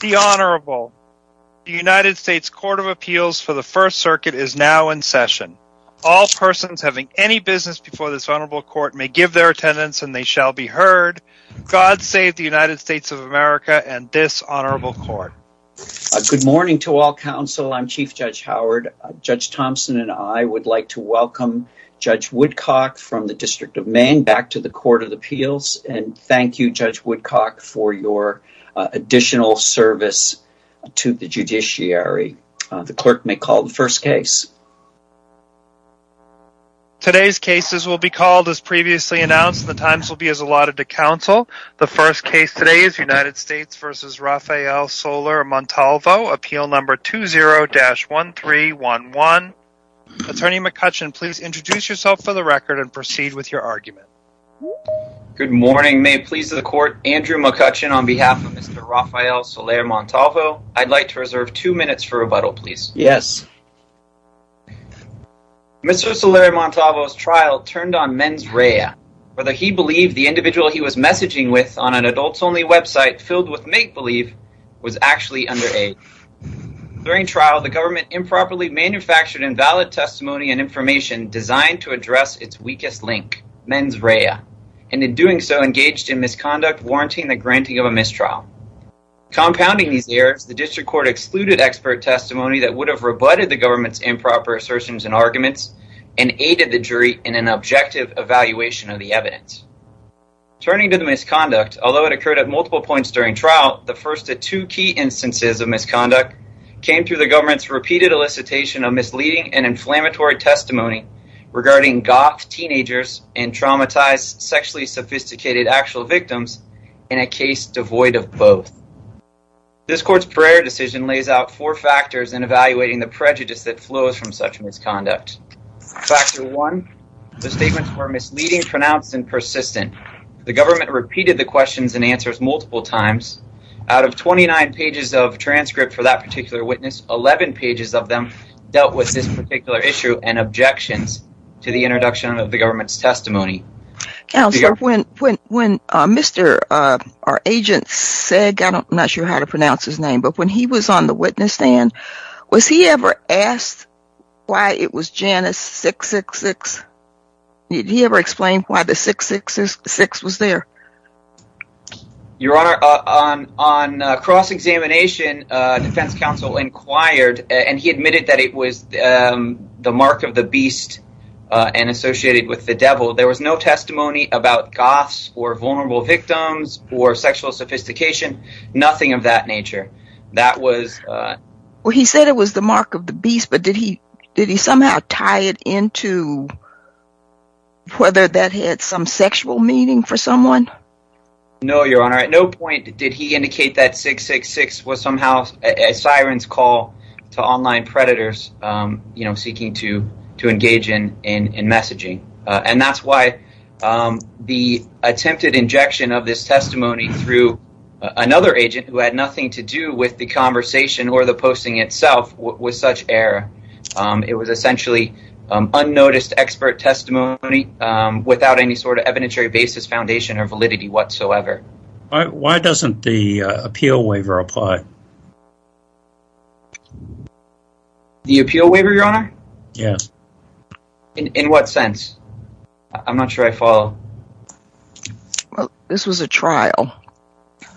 The Honorable United States Court of Appeals for the First Circuit is now in session. All persons having any business before this honorable court may give their attendance and they shall be heard. God save the United States of America and dishonorable court. Good morning to all counsel. I'm Chief Judge Howard. Judge Thompson and I would like to welcome Judge Woodcock from the District of Maine back to the Court of Appeals and thank you, Judge Woodcock, for your additional service to the judiciary. The clerk may call the first case. Today's cases will be called as previously announced and the times will be as allotted to counsel. The first case today is United States v. Rafael Soler-Montalvo, appeal number 20-1311. Attorney McCutcheon, please introduce yourself for the record and proceed with your argument. Good morning. May it please the court, Andrew McCutcheon on behalf of Mr. Rafael Soler-Montalvo. I'd like to reserve two minutes for rebuttal, please. Yes. Mr. Soler-Montalvo's trial turned on mens rea, whether he believed the individual he was messaging with on an adults-only website filled with make-believe was actually underage. During trial, the government improperly manufactured invalid testimony and information designed to and in doing so engaged in misconduct warranting the granting of a mistrial. Compounding these errors, the district court excluded expert testimony that would have rebutted the government's improper assertions and arguments and aided the jury in an objective evaluation of the evidence. Turning to the misconduct, although it occurred at multiple points during trial, the first of two key instances of misconduct came through the government's repeated elicitation of misleading and inflammatory testimony regarding goth teenagers and traumatized sexually sophisticated actual victims in a case devoid of both. This court's prayer decision lays out four factors in evaluating the prejudice that flows from such misconduct. Factor one, the statements were misleading, pronounced, and persistent. The government repeated the questions and answers multiple times. Out of 29 pages of transcript for that particular witness, 11 pages of them dealt with this particular issue and objections to the government's testimony. Counselor, when Mr. our agent said, I'm not sure how to pronounce his name, but when he was on the witness stand, was he ever asked why it was Janus 666? Did he ever explain why the 666 was there? Your honor, on cross-examination defense counsel inquired and admitted that it was the mark of the beast and associated with the devil. There was no testimony about goths or vulnerable victims or sexual sophistication, nothing of that nature. That was well, he said it was the mark of the beast, but did he somehow tie it into whether that had some sexual meaning for someone? No, your honor. At no point did he indicate that predators seeking to engage in messaging. That's why the attempted injection of this testimony through another agent who had nothing to do with the conversation or the posting itself was such error. It was essentially unnoticed expert testimony without any sort of evidentiary basis foundation or validity whatsoever. Why doesn't the appeal waiver apply? The appeal waiver, your honor? Yes. In what sense? I'm not sure I follow. Well, this was a trial.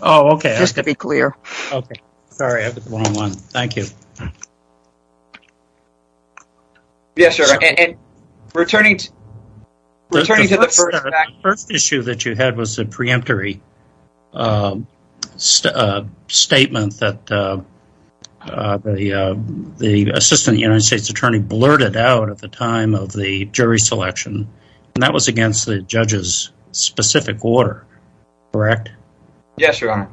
Oh, okay. Just to be clear. Okay. Sorry. I put the wrong one. Thank you. Yes, sir. And returning to the first issue that you had was a preemptory statement that the assistant United States attorney blurted out at the time of the jury selection. And that was against the judge's specific order, correct? Yes, your honor.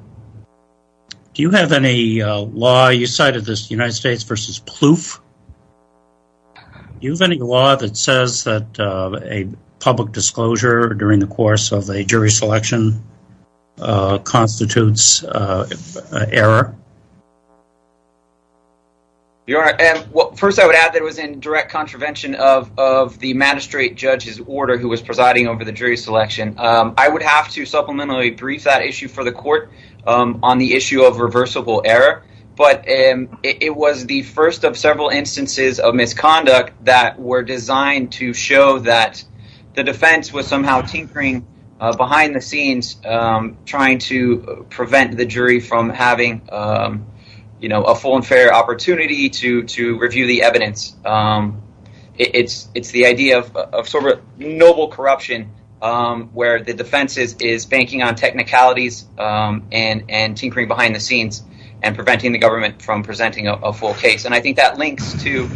Do you have any law you cited this United States versus ploof? Do you have any law that says that a public disclosure during the course of a jury selection constitutes error? First, I would add that it was in direct contravention of the magistrate judge's order who was presiding over the jury selection. I would have to supplementary brief that issue for the court on the issue of reversible error. But it was the first of several instances of misconduct that were designed to show that the defense was somehow tinkering behind the scenes trying to prevent the jury from having a full and fair opportunity to review the evidence. It's the idea of sort of noble corruption where the defense is banking on technicalities and tinkering behind the scenes and preventing the government from presenting a full case. And I think that links to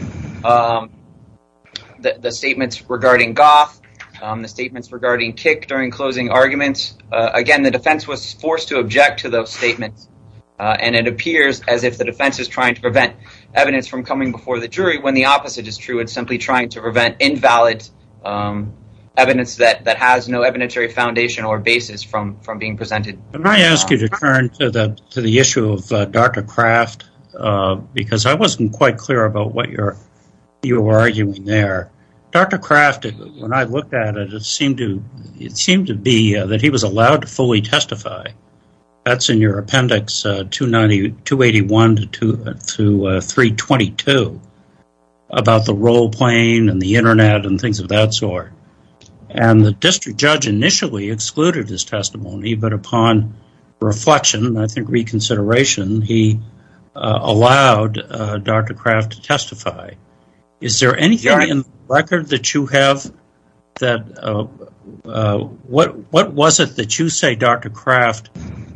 the statements regarding goth, the statements regarding kick during closing arguments. Again, the defense was forced to object to those statements. And it appears as if the defense is trying to prevent evidence from coming before the jury when the opposite is true. It's simply trying to prevent invalid evidence that has no evidentiary foundation or basis from being presented. And I ask you to turn to the issue of Dr. Kraft because I wasn't quite clear about what you were arguing there. Dr. Kraft, when I looked at it, it seemed to be that he was allowed to fully testify. That's in your appendix 281 to 322 about the role playing and the internet and things of that sort. And the district judge initially excluded his testimony, but upon reflection, I think reconsideration, he allowed Dr. Kraft to testify. What was it that you say Dr. Kraft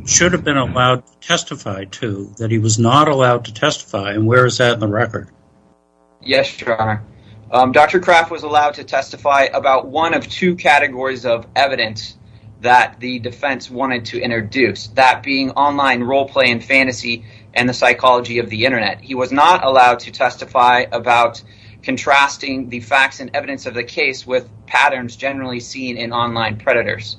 should have been allowed to testify to that he was not allowed to testify? And where is that in the record? Yes, sure. Dr. Kraft was allowed to testify about one of two categories of evidence that the defense wanted to introduce that being online role play and fantasy and the psychology of the internet. He was not allowed to testify about contrasting the facts and evidence of the case with patterns generally seen in online predators.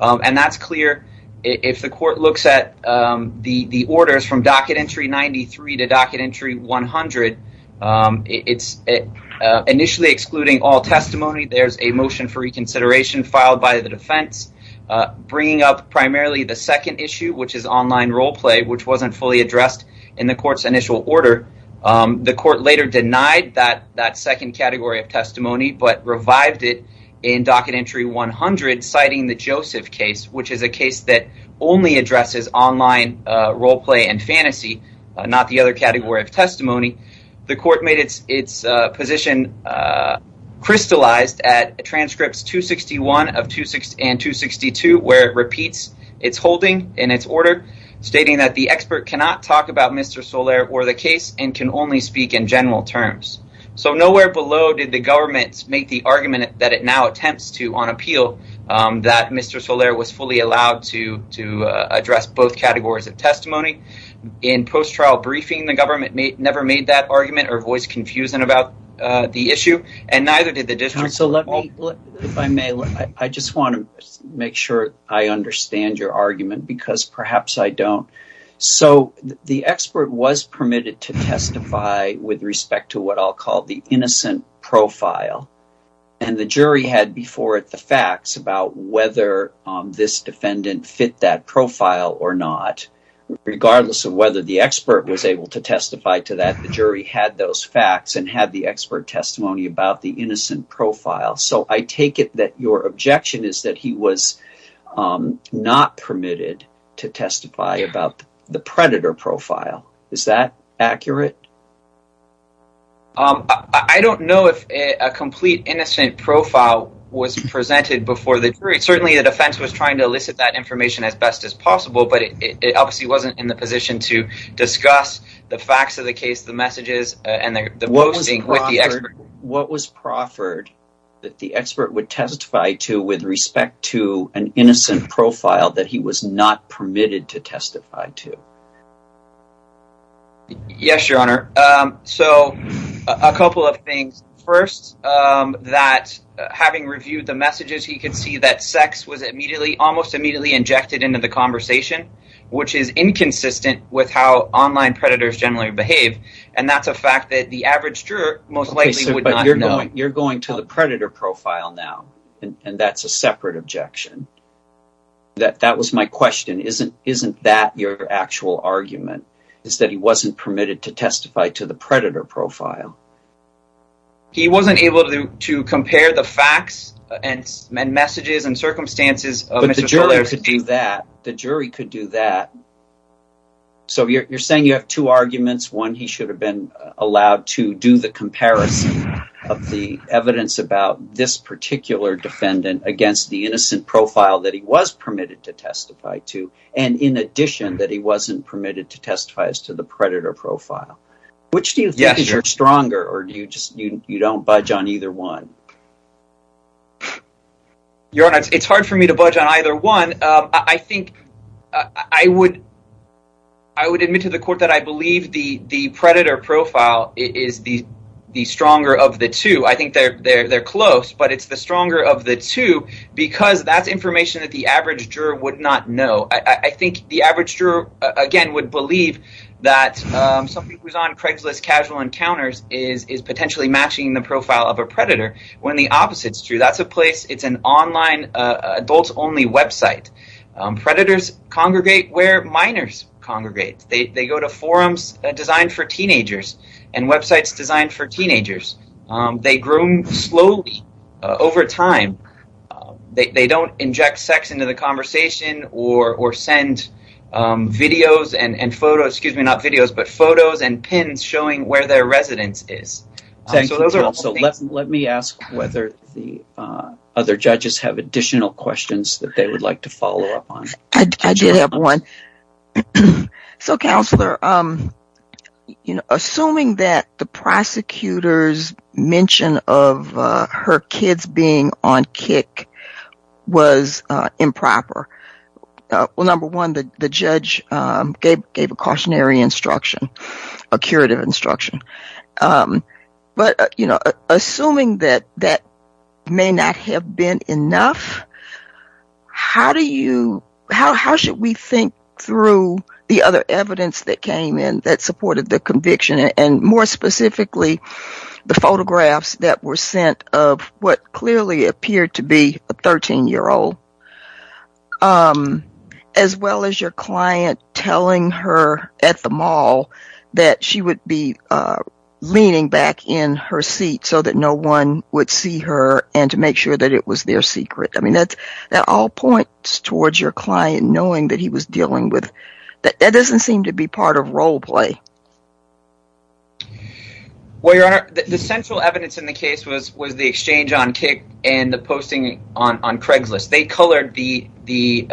And that's clear. If the court looks at the orders from docket entry 93 to docket entry 100, it's initially excluding all testimony. There's a motion for reconsideration filed by the defense bringing up primarily the second issue, which is online role play, which wasn't fully addressed in the court's initial order. The court later denied that second category of testimony, but revived it in docket entry 100, citing the Joseph case, which is a case that only addresses online role play and fantasy, not the other category of testimony. The court made its position crystallized at transcripts 261 and 262, where it repeats its holding in its order, stating that the expert cannot talk about Mr. Solaire or the case and can only speak in general terms. So nowhere below did the government make the argument that it now attempts to on appeal that Mr. Solaire was fully allowed to address both categories of testimony. In post-trial briefing, the government never made that argument or voice confusion about the issue, and neither did the district. So let me, if I may, I just want to make sure I understand your argument because perhaps I don't. So the expert was permitted to testify with respect to what I'll call the innocent profile, and the jury had before it the facts about whether this defendant fit that profile or not. Regardless of whether the expert was able to testify to that, the jury had those facts and had the expert testimony about the innocent profile. So I take it that your objection is he was not permitted to testify about the predator profile. Is that accurate? I don't know if a complete innocent profile was presented before the jury. Certainly the defense was trying to elicit that information as best as possible, but it obviously wasn't in the position to discuss the facts of the case, the messages, and the posting with the expert. What was proffered that the expert would testify to with respect to an innocent profile that he was not permitted to testify to? Yes, your honor. So a couple of things. First, having reviewed the messages, he could see that sex was almost immediately injected into the conversation, which is inconsistent with how online predators generally behave, and that's a fact that the average juror most likely would not know. You're going to the predator profile now, and that's a separate objection. That was my question. Isn't that your actual argument, is that he wasn't permitted to testify to the predator profile? He wasn't able to compare the facts and messages and circumstances. The jury could do that. So you're saying you have two arguments. One, he should have been of the evidence about this particular defendant against the innocent profile that he was permitted to testify to, and in addition that he wasn't permitted to testify as to the predator profile. Which do you think is your stronger, or you don't budge on either one? Your honor, it's hard for me to budge on either one. I think I would admit to the court that I the stronger of the two. I think they're close, but it's the stronger of the two, because that's information that the average juror would not know. I think the average juror, again, would believe that somebody who's on Craigslist casual encounters is potentially matching the profile of a predator, when the opposite is true. That's a place, it's an online adult-only website. Predators congregate where minors congregate. They go to forums designed for teenagers and websites designed for teenagers. They groom slowly over time. They don't inject sex into the conversation or send videos and photos, excuse me, not videos, but photos and pins showing where their residence is. Let me ask whether the other judges have additional questions that they would like to follow up on. I did have one. Counselor, assuming that the prosecutor's mention of her kids being on kick was improper, number one, the judge gave a cautionary instruction, a curative instruction, but assuming that that may not have been enough, how should we think through the other evidence that came in that supported the conviction, and more specifically, the photographs that were sent of what clearly appeared to be a 13-year-old, as well as your client telling her at the mall that she would be leaning back in her seat so that no one would see her and to make sure that it was their secret? I mean, that all points towards your client knowing that he was dealing with, that doesn't seem to be part of role play. Well, Your Honor, the central evidence in the case was the exchange on kick and the posting on Craigslist. They colored the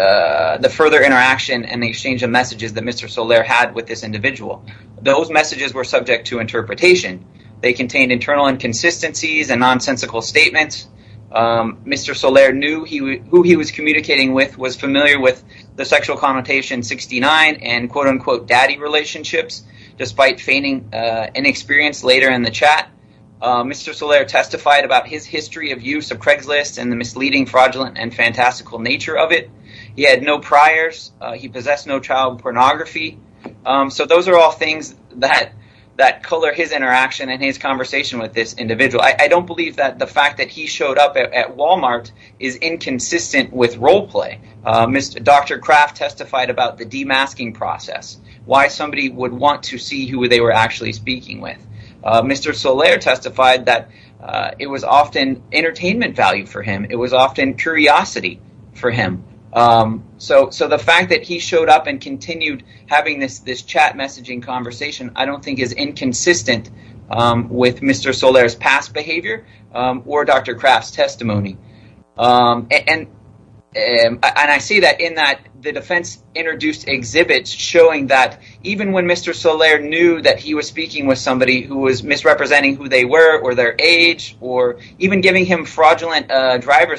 further interaction and the exchange of messages that Mr. Solaire had with this individual. Those messages were subject to interpretation. They contained internal inconsistencies and nonsensical statements. Mr. Solaire knew who he was communicating with, was familiar with the sexual connotation 69 and quote-unquote daddy relationships, despite feigning inexperience later in the chat. Mr. Solaire testified about his history of use of Craigslist and the misleading, fraudulent, and fantastical nature of it. He had no priors. He possessed no child pornography. So those are all things that color his interaction and his conversation with this individual. I don't believe that the fact that he showed up at Walmart is inconsistent with role play. Dr. Craft testified about the demasking process, why somebody would want to see who they were actually speaking with. Mr. Solaire testified that it was often entertainment value for him. It was often curiosity for him. So the fact that he showed up and continued having this chat messaging conversation, I don't think is inconsistent with Mr. Solaire's past behavior or Dr. Craft's testimony. And I see that in that the defense introduced exhibits showing that even when Mr. Solaire knew that he was speaking with somebody who was misrepresenting who they were or their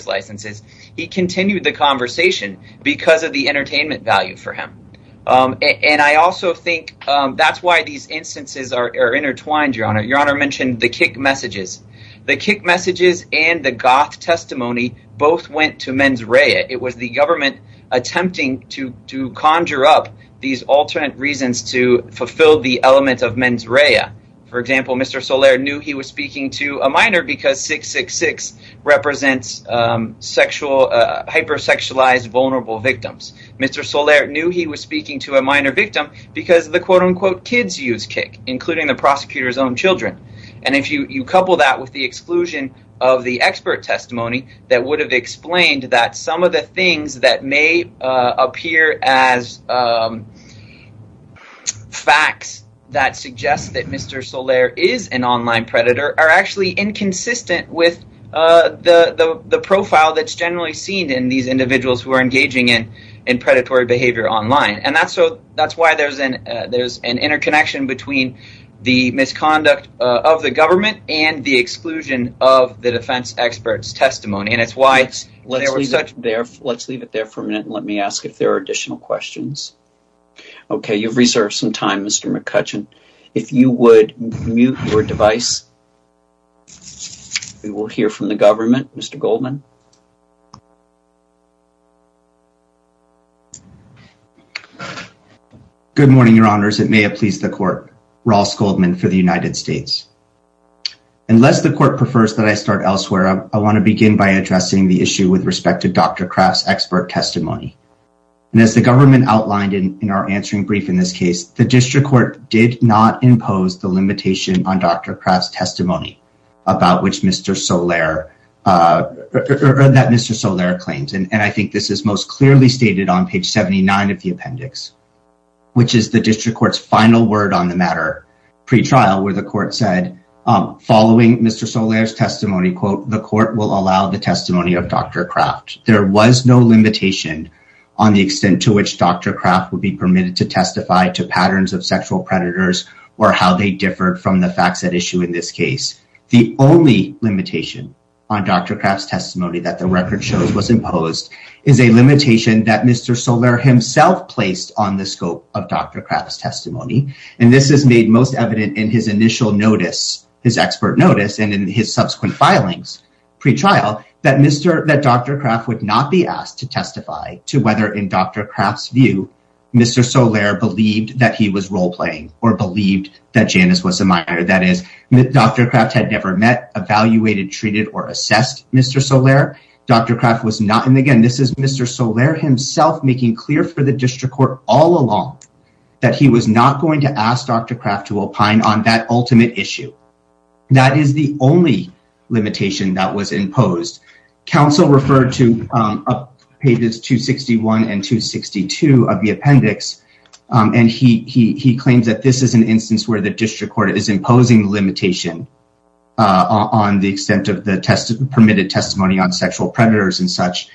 licenses, he continued the conversation because of the entertainment value for him. And I also think that's why these instances are intertwined, Your Honor. Your Honor mentioned the kick messages. The kick messages and the goth testimony both went to mens rea. It was the government attempting to conjure up these alternate reasons to fulfill the element of mens rea. For sexual, hyper-sexualized, vulnerable victims. Mr. Solaire knew he was speaking to a minor victim because the quote-unquote kids use kick, including the prosecutor's own children. And if you couple that with the exclusion of the expert testimony that would have explained that some of the things that may appear as facts that suggest that Mr. Solaire is an online predator are actually inconsistent with the profile that's generally seen in these individuals who are engaging in predatory behavior online. And that's why there's an interconnection between the misconduct of the government and the exclusion of the defense expert's testimony. And it's why let's leave it there for a minute and let me ask if there are additional questions. Okay, you've reserved some time, Mr. McCutcheon. If you would mute your device, we will hear from the government. Mr. Goldman. Good morning, Your Honors. It may have pleased the court. Ross Goldman for the United States. Unless the court prefers that I start elsewhere, I want to begin by addressing the issue with respect to Dr. Kraft's expert testimony. And as the government outlined in our answering brief, in this case, the district court did not impose the limitation on Dr. Kraft's testimony about which Mr. Solaire or that Mr. Solaire claims. And I think this is most clearly stated on page 79 of the appendix, which is the district court's final word on the matter pre-trial where the court said, following Mr. Solaire's testimony, quote, the court will allow the testimony of Dr. Kraft. There was no limitation on the extent to which Dr. Kraft would be permitted to testify to patterns of sexual predators or how they differed from the facts at issue in this case. The only limitation on Dr. Kraft's testimony that the record shows was imposed is a limitation that Mr. Solaire himself placed on the scope of Dr. Kraft's testimony. And this is made most evident in his initial notice, his expert notice and in his subsequent filings pre-trial, that Mr. that Dr. Kraft would not be asked to testify to whether in Dr. Kraft's view, Mr. Solaire believed that he was role playing or believed that Janice was a minor. That is, Dr. Kraft had never met, evaluated, treated or assessed Mr. Solaire. Dr. Kraft was not. And again, this is Mr. Solaire himself making clear for the district court all along that he was not going to ask Dr. on that ultimate issue. That is the only limitation that was imposed. Council referred to pages 261 and 262 of the appendix. And he claims that this is an instance where the district court is imposing limitation on the extent of the permitted testimony on sexual predators and such.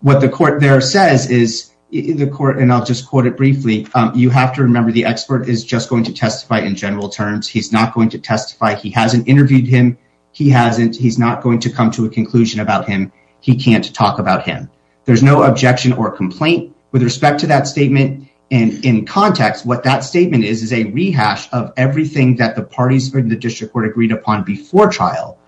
What the court there says is the court, and I'll just quote it briefly, you have to remember the expert is just going to testify in general terms. He's not going to testify. He hasn't interviewed him. He hasn't, he's not going to come to a conclusion about him. He can't talk about him. There's no objection or complaint with respect to that statement. And in context, what that statement is, is a rehash of everything that the parties in the district court agreed upon before trial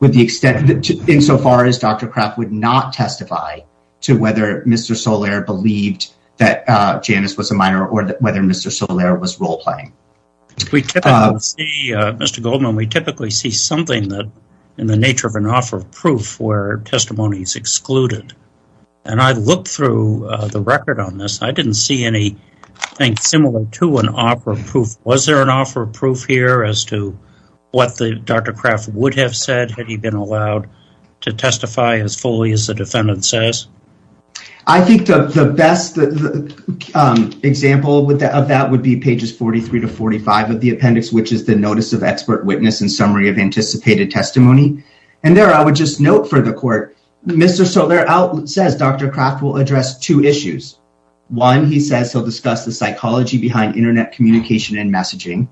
with the extent insofar as Dr. Kraft would not testify to whether Mr. Solaire believed that Janice was a minor or whether Mr. Solaire was role-playing. Mr. Goldman, we typically see something that in the nature of an offer of proof where testimony is excluded. And I looked through the record on this. I didn't see any thing similar to an offer of proof. Was there an offer of proof here as to what the Dr. Kraft would have said had he been allowed to testify as fully as the defendant says? I think the best example of that would be pages 43 to 45 of the appendix, which is the notice of expert witness and summary of anticipated testimony. And there, I would just note for the court, Mr. Solaire says Dr. Kraft will address two issues. One, he says he'll discuss the psychology behind internet communication and messaging.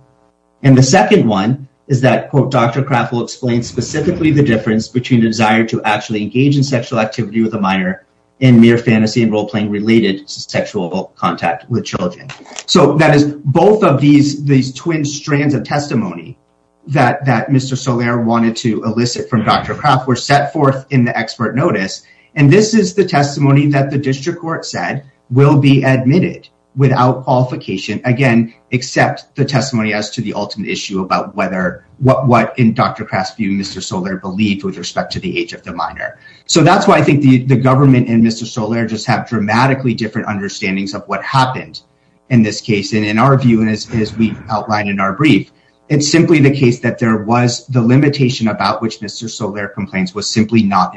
And the second one is that Dr. Kraft will explain specifically the difference between the desire to actually engage in sexual activity with a minor in mere fantasy and role-playing related to sexual contact with children. So that is both of these twin strands of testimony that Mr. Solaire wanted to elicit from Dr. Kraft were set forth in the expert notice. And this is the testimony that district court said will be admitted without qualification, again, except the testimony as to the ultimate issue about what in Dr. Kraft's view Mr. Solaire believed with respect to the age of the minor. So that's why I think the government and Mr. Solaire just have dramatically different understandings of what happened in this case. And in our view, as we outlined in our brief, it's simply the case that there was the limitation about which Mr. Solaire complains was simply not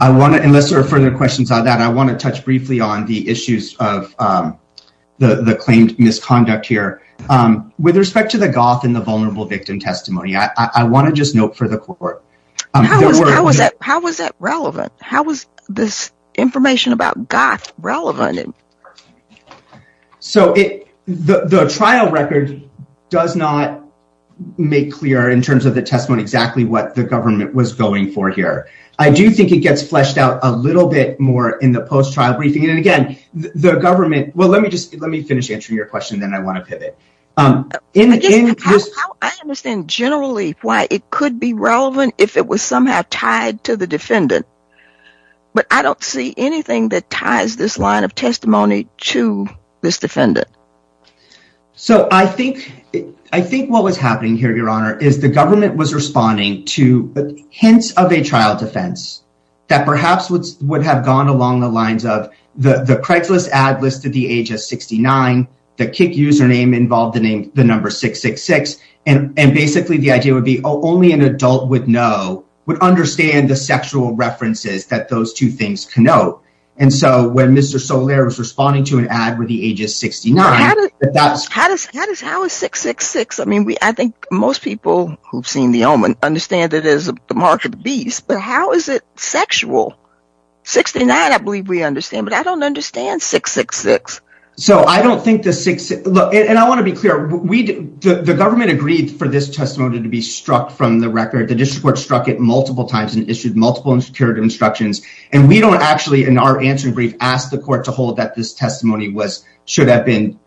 I want to, unless there are further questions on that, I want to touch briefly on the issues of the claimed misconduct here. With respect to the goth and the vulnerable victim testimony, I want to just note for the court. How was that relevant? How was this information about goth relevant? So the trial record does not make clear in terms of the testimony exactly what the government was going for here. I do think it gets fleshed out a little bit more in the post trial briefing. And again, the government, well, let me just let me finish answering your question, then I want to pivot. I understand generally why it could be relevant if it was somehow tied to the defendant. But I don't see anything that ties this line of testimony to this defendant. So I think, I think what was happening here, Your Honor, is the government was responding to hints of a trial defense that perhaps would have gone along the lines of the Craigslist ad listed the age of 69, the kick username involved the number 666. And basically, the idea would be only an adult would know, would understand the sexual references that those two things connote. And so when Mr. Solaire was responding to an ad with the age of 69, that's how is 666? I mean, we I think most people who've seen the omen understand that is the mark of the beast. But how is it sexual? 69, I believe we understand, but I don't understand 666. So I don't think the 666, and I want to be clear, we, the government agreed for this testimony to be struck from the record, the district court struck it multiple times and issued multiple curative instructions. And we don't actually in our answering brief, ask the court to hold that this testimony was should have been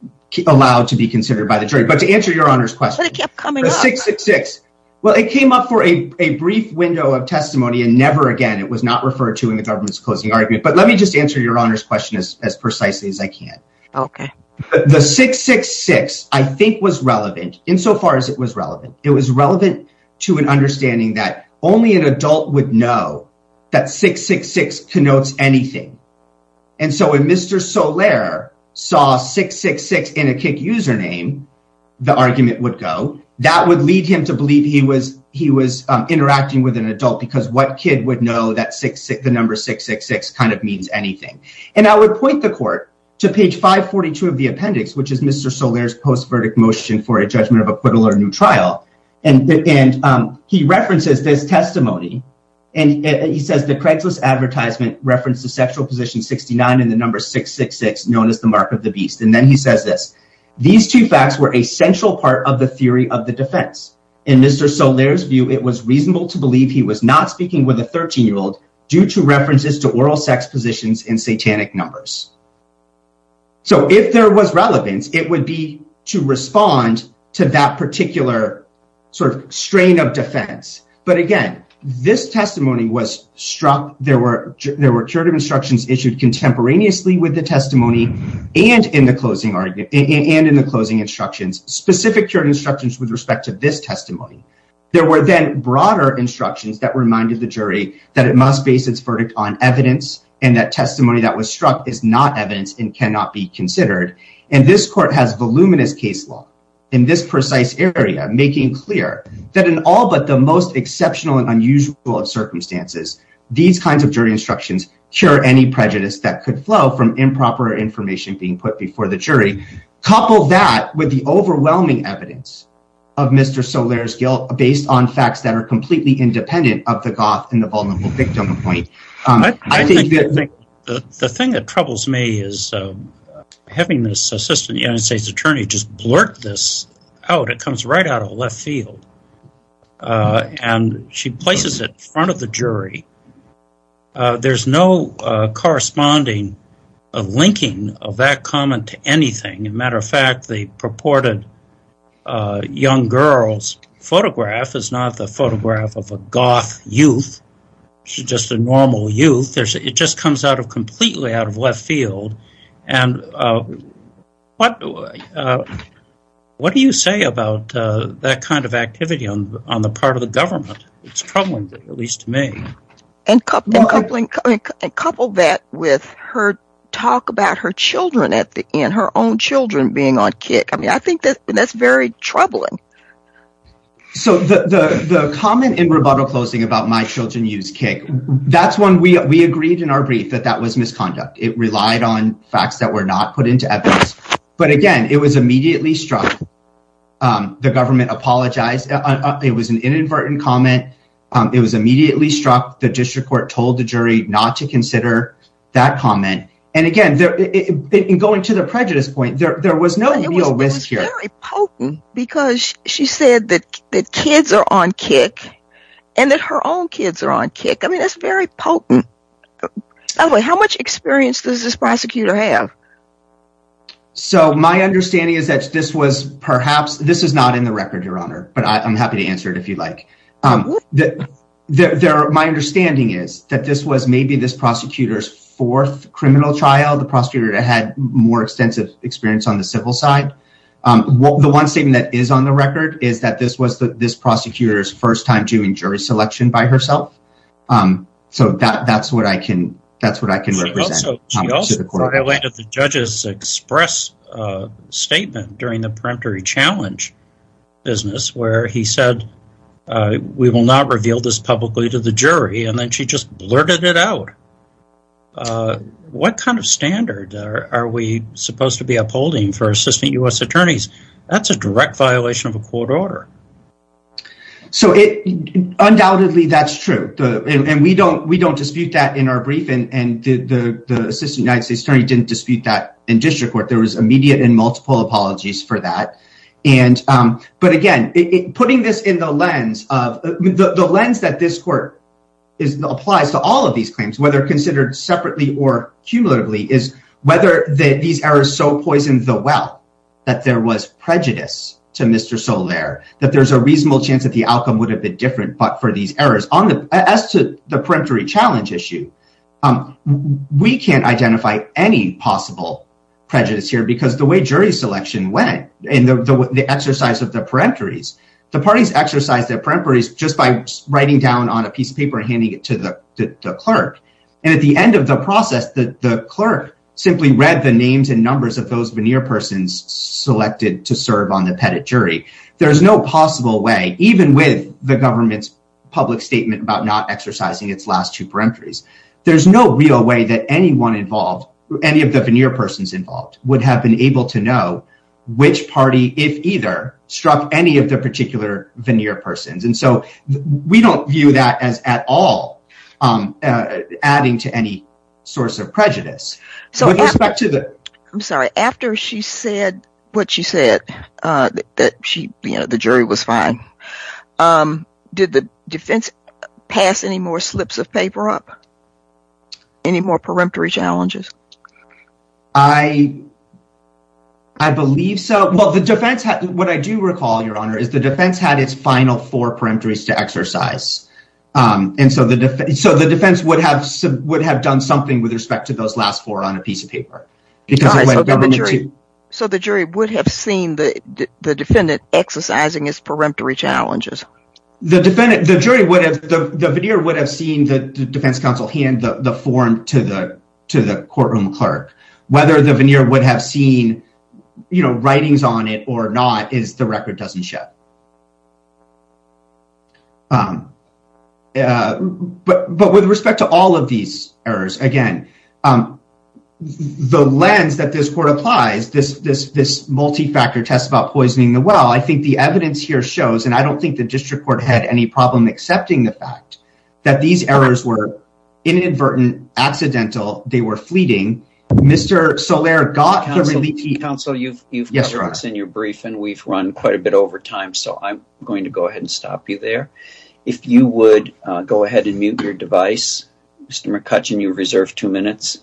allowed to be considered by the jury. But to answer Your Honor's question, it kept coming up 666. Well, it came up for a brief window of testimony and never again, it was not referred to in the government's closing argument. But let me just answer Your Honor's question as precisely as I can. Okay. The 666 I think was relevant insofar as it was relevant, it was relevant to an understanding that only an adult would know that 666 connotes anything. And so when Mr. Soler saw 666 in a kick username, the argument would go that would lead him to believe he was he was interacting with an adult because what kid would know that 666 the number 666 kind of means anything. And I would point the court to page 542 of the appendix, which is Mr. Soler's post verdict motion for a judgment of testimony. And he says the Craigslist advertisement reference to sexual position 69 and the number 666 known as the mark of the beast. And then he says this, these two facts were a central part of the theory of the defense. In Mr. Soler's view, it was reasonable to believe he was not speaking with a 13 year old due to references to oral sex positions in satanic numbers. So if there was relevance, it would be to respond to that particular sort of strain of defense. But again, this testimony was struck. There were there were curative instructions issued contemporaneously with the testimony and in the closing argument and in the closing instructions, specific curative instructions with respect to this testimony. There were then broader instructions that reminded the jury that it must base its verdict on evidence and that testimony that was struck is not evidence and cannot be considered. And this court has voluminous case law in this exceptional and unusual of circumstances. These kinds of jury instructions cure any prejudice that could flow from improper information being put before the jury. Couple that with the overwhelming evidence of Mr. Soler's guilt based on facts that are completely independent of the goth and the vulnerable victim. I think the thing that troubles me is having this assistant United States attorney just blurt this out. It comes right out of left field and she places it in front of the jury. There's no corresponding linking of that comment to anything. As a matter of fact, the purported young girl's photograph is not the photograph of a goth youth. She's just a normal youth. It just comes completely out of left field. What do you say about that kind of activity on the part of the government? It's troubling, at least to me. Couple that with her talk about her own children being on kick. I think that's very troubling. The comment in rebuttal closing about my children use kick, that's when we agreed in our brief that that was misconduct. It relied on facts that were not put into evidence. But again, it was immediately struck. The government apologized. It was an inadvertent comment. It was immediately struck. The district court told the jury not to consider that comment. And again, going to the she said that the kids are on kick and that her own kids are on kick. I mean, it's very potent. How much experience does this prosecutor have? My understanding is that this was perhaps this is not in the record, Your Honor, but I'm happy to answer it if you like. My understanding is that this was maybe this prosecutor's fourth criminal trial. The prosecutor had more extensive experience on the civil side. The one statement that is on the record is that this was this prosecutor's first time doing jury selection by herself. So that's what I can that's what I can represent. The judges express statement during the peremptory challenge business where he said, we will not reveal this publicly to the jury and then she just blurted it out. Uh, what kind of standard are we supposed to be upholding for assistant U.S. attorneys? That's a direct violation of a court order. So it undoubtedly that's true. And we don't we don't dispute that in our briefing. And the assistant United States attorney didn't dispute that in district court. There was immediate and multiple apologies for that. And but again, putting this in the lens of the lens that this court is applies to all of these claims, considered separately or cumulatively, is whether these errors so poisoned the well, that there was prejudice to Mr. Solaire, that there's a reasonable chance that the outcome would have been different. But for these errors as to the peremptory challenge issue, we can't identify any possible prejudice here because the way jury selection went and the exercise of the peremptories, the parties exercise their peremptories just by writing down on a piece of paper and handing it to the clerk. And at the end of the process, the clerk simply read the names and numbers of those veneer persons selected to serve on the pettit jury. There is no possible way, even with the government's public statement about not exercising its last two peremptories. There's no real way that anyone involved, any of the veneer persons involved would have been able to know which party, if either struck any of the peremptories. We don't view that as at all adding to any source of prejudice. I'm sorry, after she said what she said, that she, you know, the jury was fine. Did the defense pass any more slips of paper up? Any more peremptory challenges? I believe so. Well, the defense, what I do recall, Your Honor, is the defense had its final four peremptories to exercise. And so the defense would have done something with respect to those last four on a piece of paper. So the jury would have seen the defendant exercising his peremptory challenges? The jury would have, the veneer would have seen the defense counsel hand the form to the to the courtroom clerk. Whether the veneer would have seen, you know, um, uh, but, but with respect to all of these errors, again, um, the lens that this court applies, this, this, this multi-factor test about poisoning the well, I think the evidence here shows, and I don't think the district court had any problem accepting the fact that these errors were inadvertent, accidental. They were fleeting. Mr. Soler got the relief. Counsel, you've, you've got what's in your brief, and we've run quite a bit over time. So I'm going to go ahead and stop you there. If you would go ahead and mute your device, Mr. McCutcheon, you're reserved two minutes.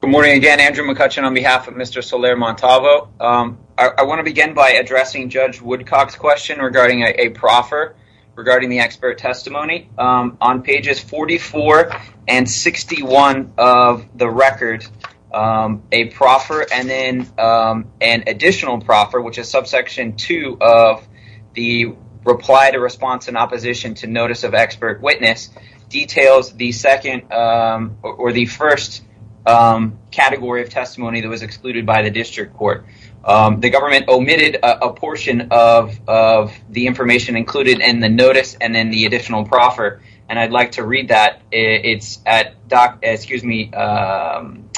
Good morning again, Andrew McCutcheon on behalf of Mr. Soler Montalvo. Um, I want to begin by addressing Judge Woodcock's question regarding a proffer, regarding the expert testimony. Um, pages 44 and 61 of the record, um, a proffer, and then, um, an additional proffer, which is subsection 2 of the reply to response in opposition to notice of expert witness, details the second, um, or the first, um, category of testimony that was excluded by the district court. Um, the government omitted a portion of, of the information included in the notice, and then the additional proffer, and I'd like to read that. It's at doc, excuse me, um,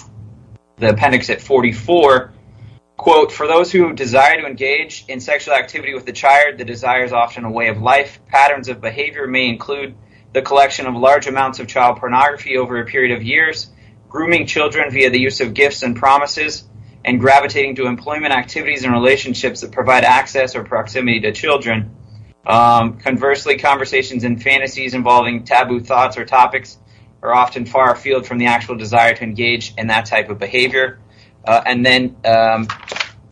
the appendix at 44. Quote, for those who desire to engage in sexual activity with the child, the desire is often a way of life. Patterns of behavior may include the collection of large amounts of child pornography over a period of years, grooming children via the use of gifts and promises, and gravitating to employment activities and relationships that provide access or proximity to children. Um, conversely, conversations and fantasies involving taboo thoughts or topics are often far afield from the actual desire to engage in that type of behavior, and then, um,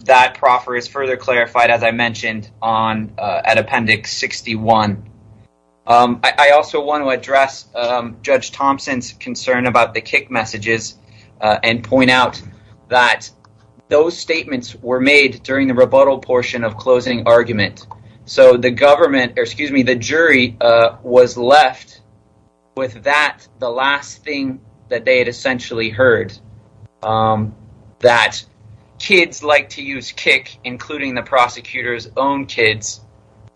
that proffer is further clarified, as I mentioned, on, uh, at appendix 61. Um, I, I also want to address, um, Judge Thompson's concern about the kick messages, uh, and point out that those statements were made during the was left with that, the last thing that they had essentially heard, um, that kids like to use kick, including the prosecutor's own kids,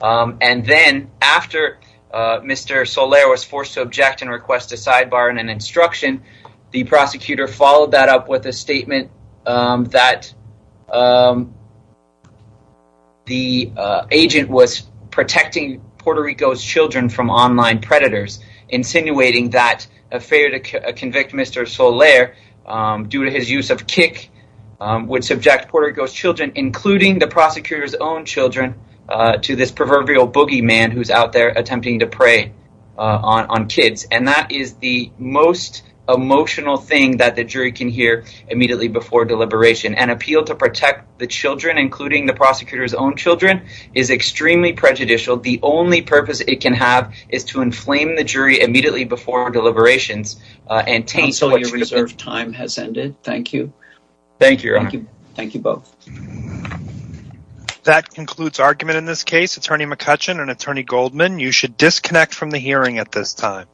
um, and then after, uh, Mr. Soler was forced to object and request a sidebar and an instruction, the prosecutor followed that up with a statement, um, that, um, the, uh, agent was protecting Puerto Rico's children from online predators, insinuating that a failure to convict Mr. Soler, um, due to his use of kick, um, would subject Puerto Rico's children, including the prosecutor's own children, uh, to this proverbial boogeyman who's out there attempting to prey, uh, on, on kids, and that is the most emotional thing that the jury can hear immediately before deliberation. An appeal to protect the children, including the prosecutor's own children, is extremely prejudicial. The only purpose it can have is to inflame the jury immediately before deliberations, uh, and taint what should have been. Counsel, your reserved time has ended. Thank you. Thank you, Your Honor. Thank you both. That concludes argument in this case. Attorney McCutcheon and Attorney Goldman, you should disconnect from the hearing at this time.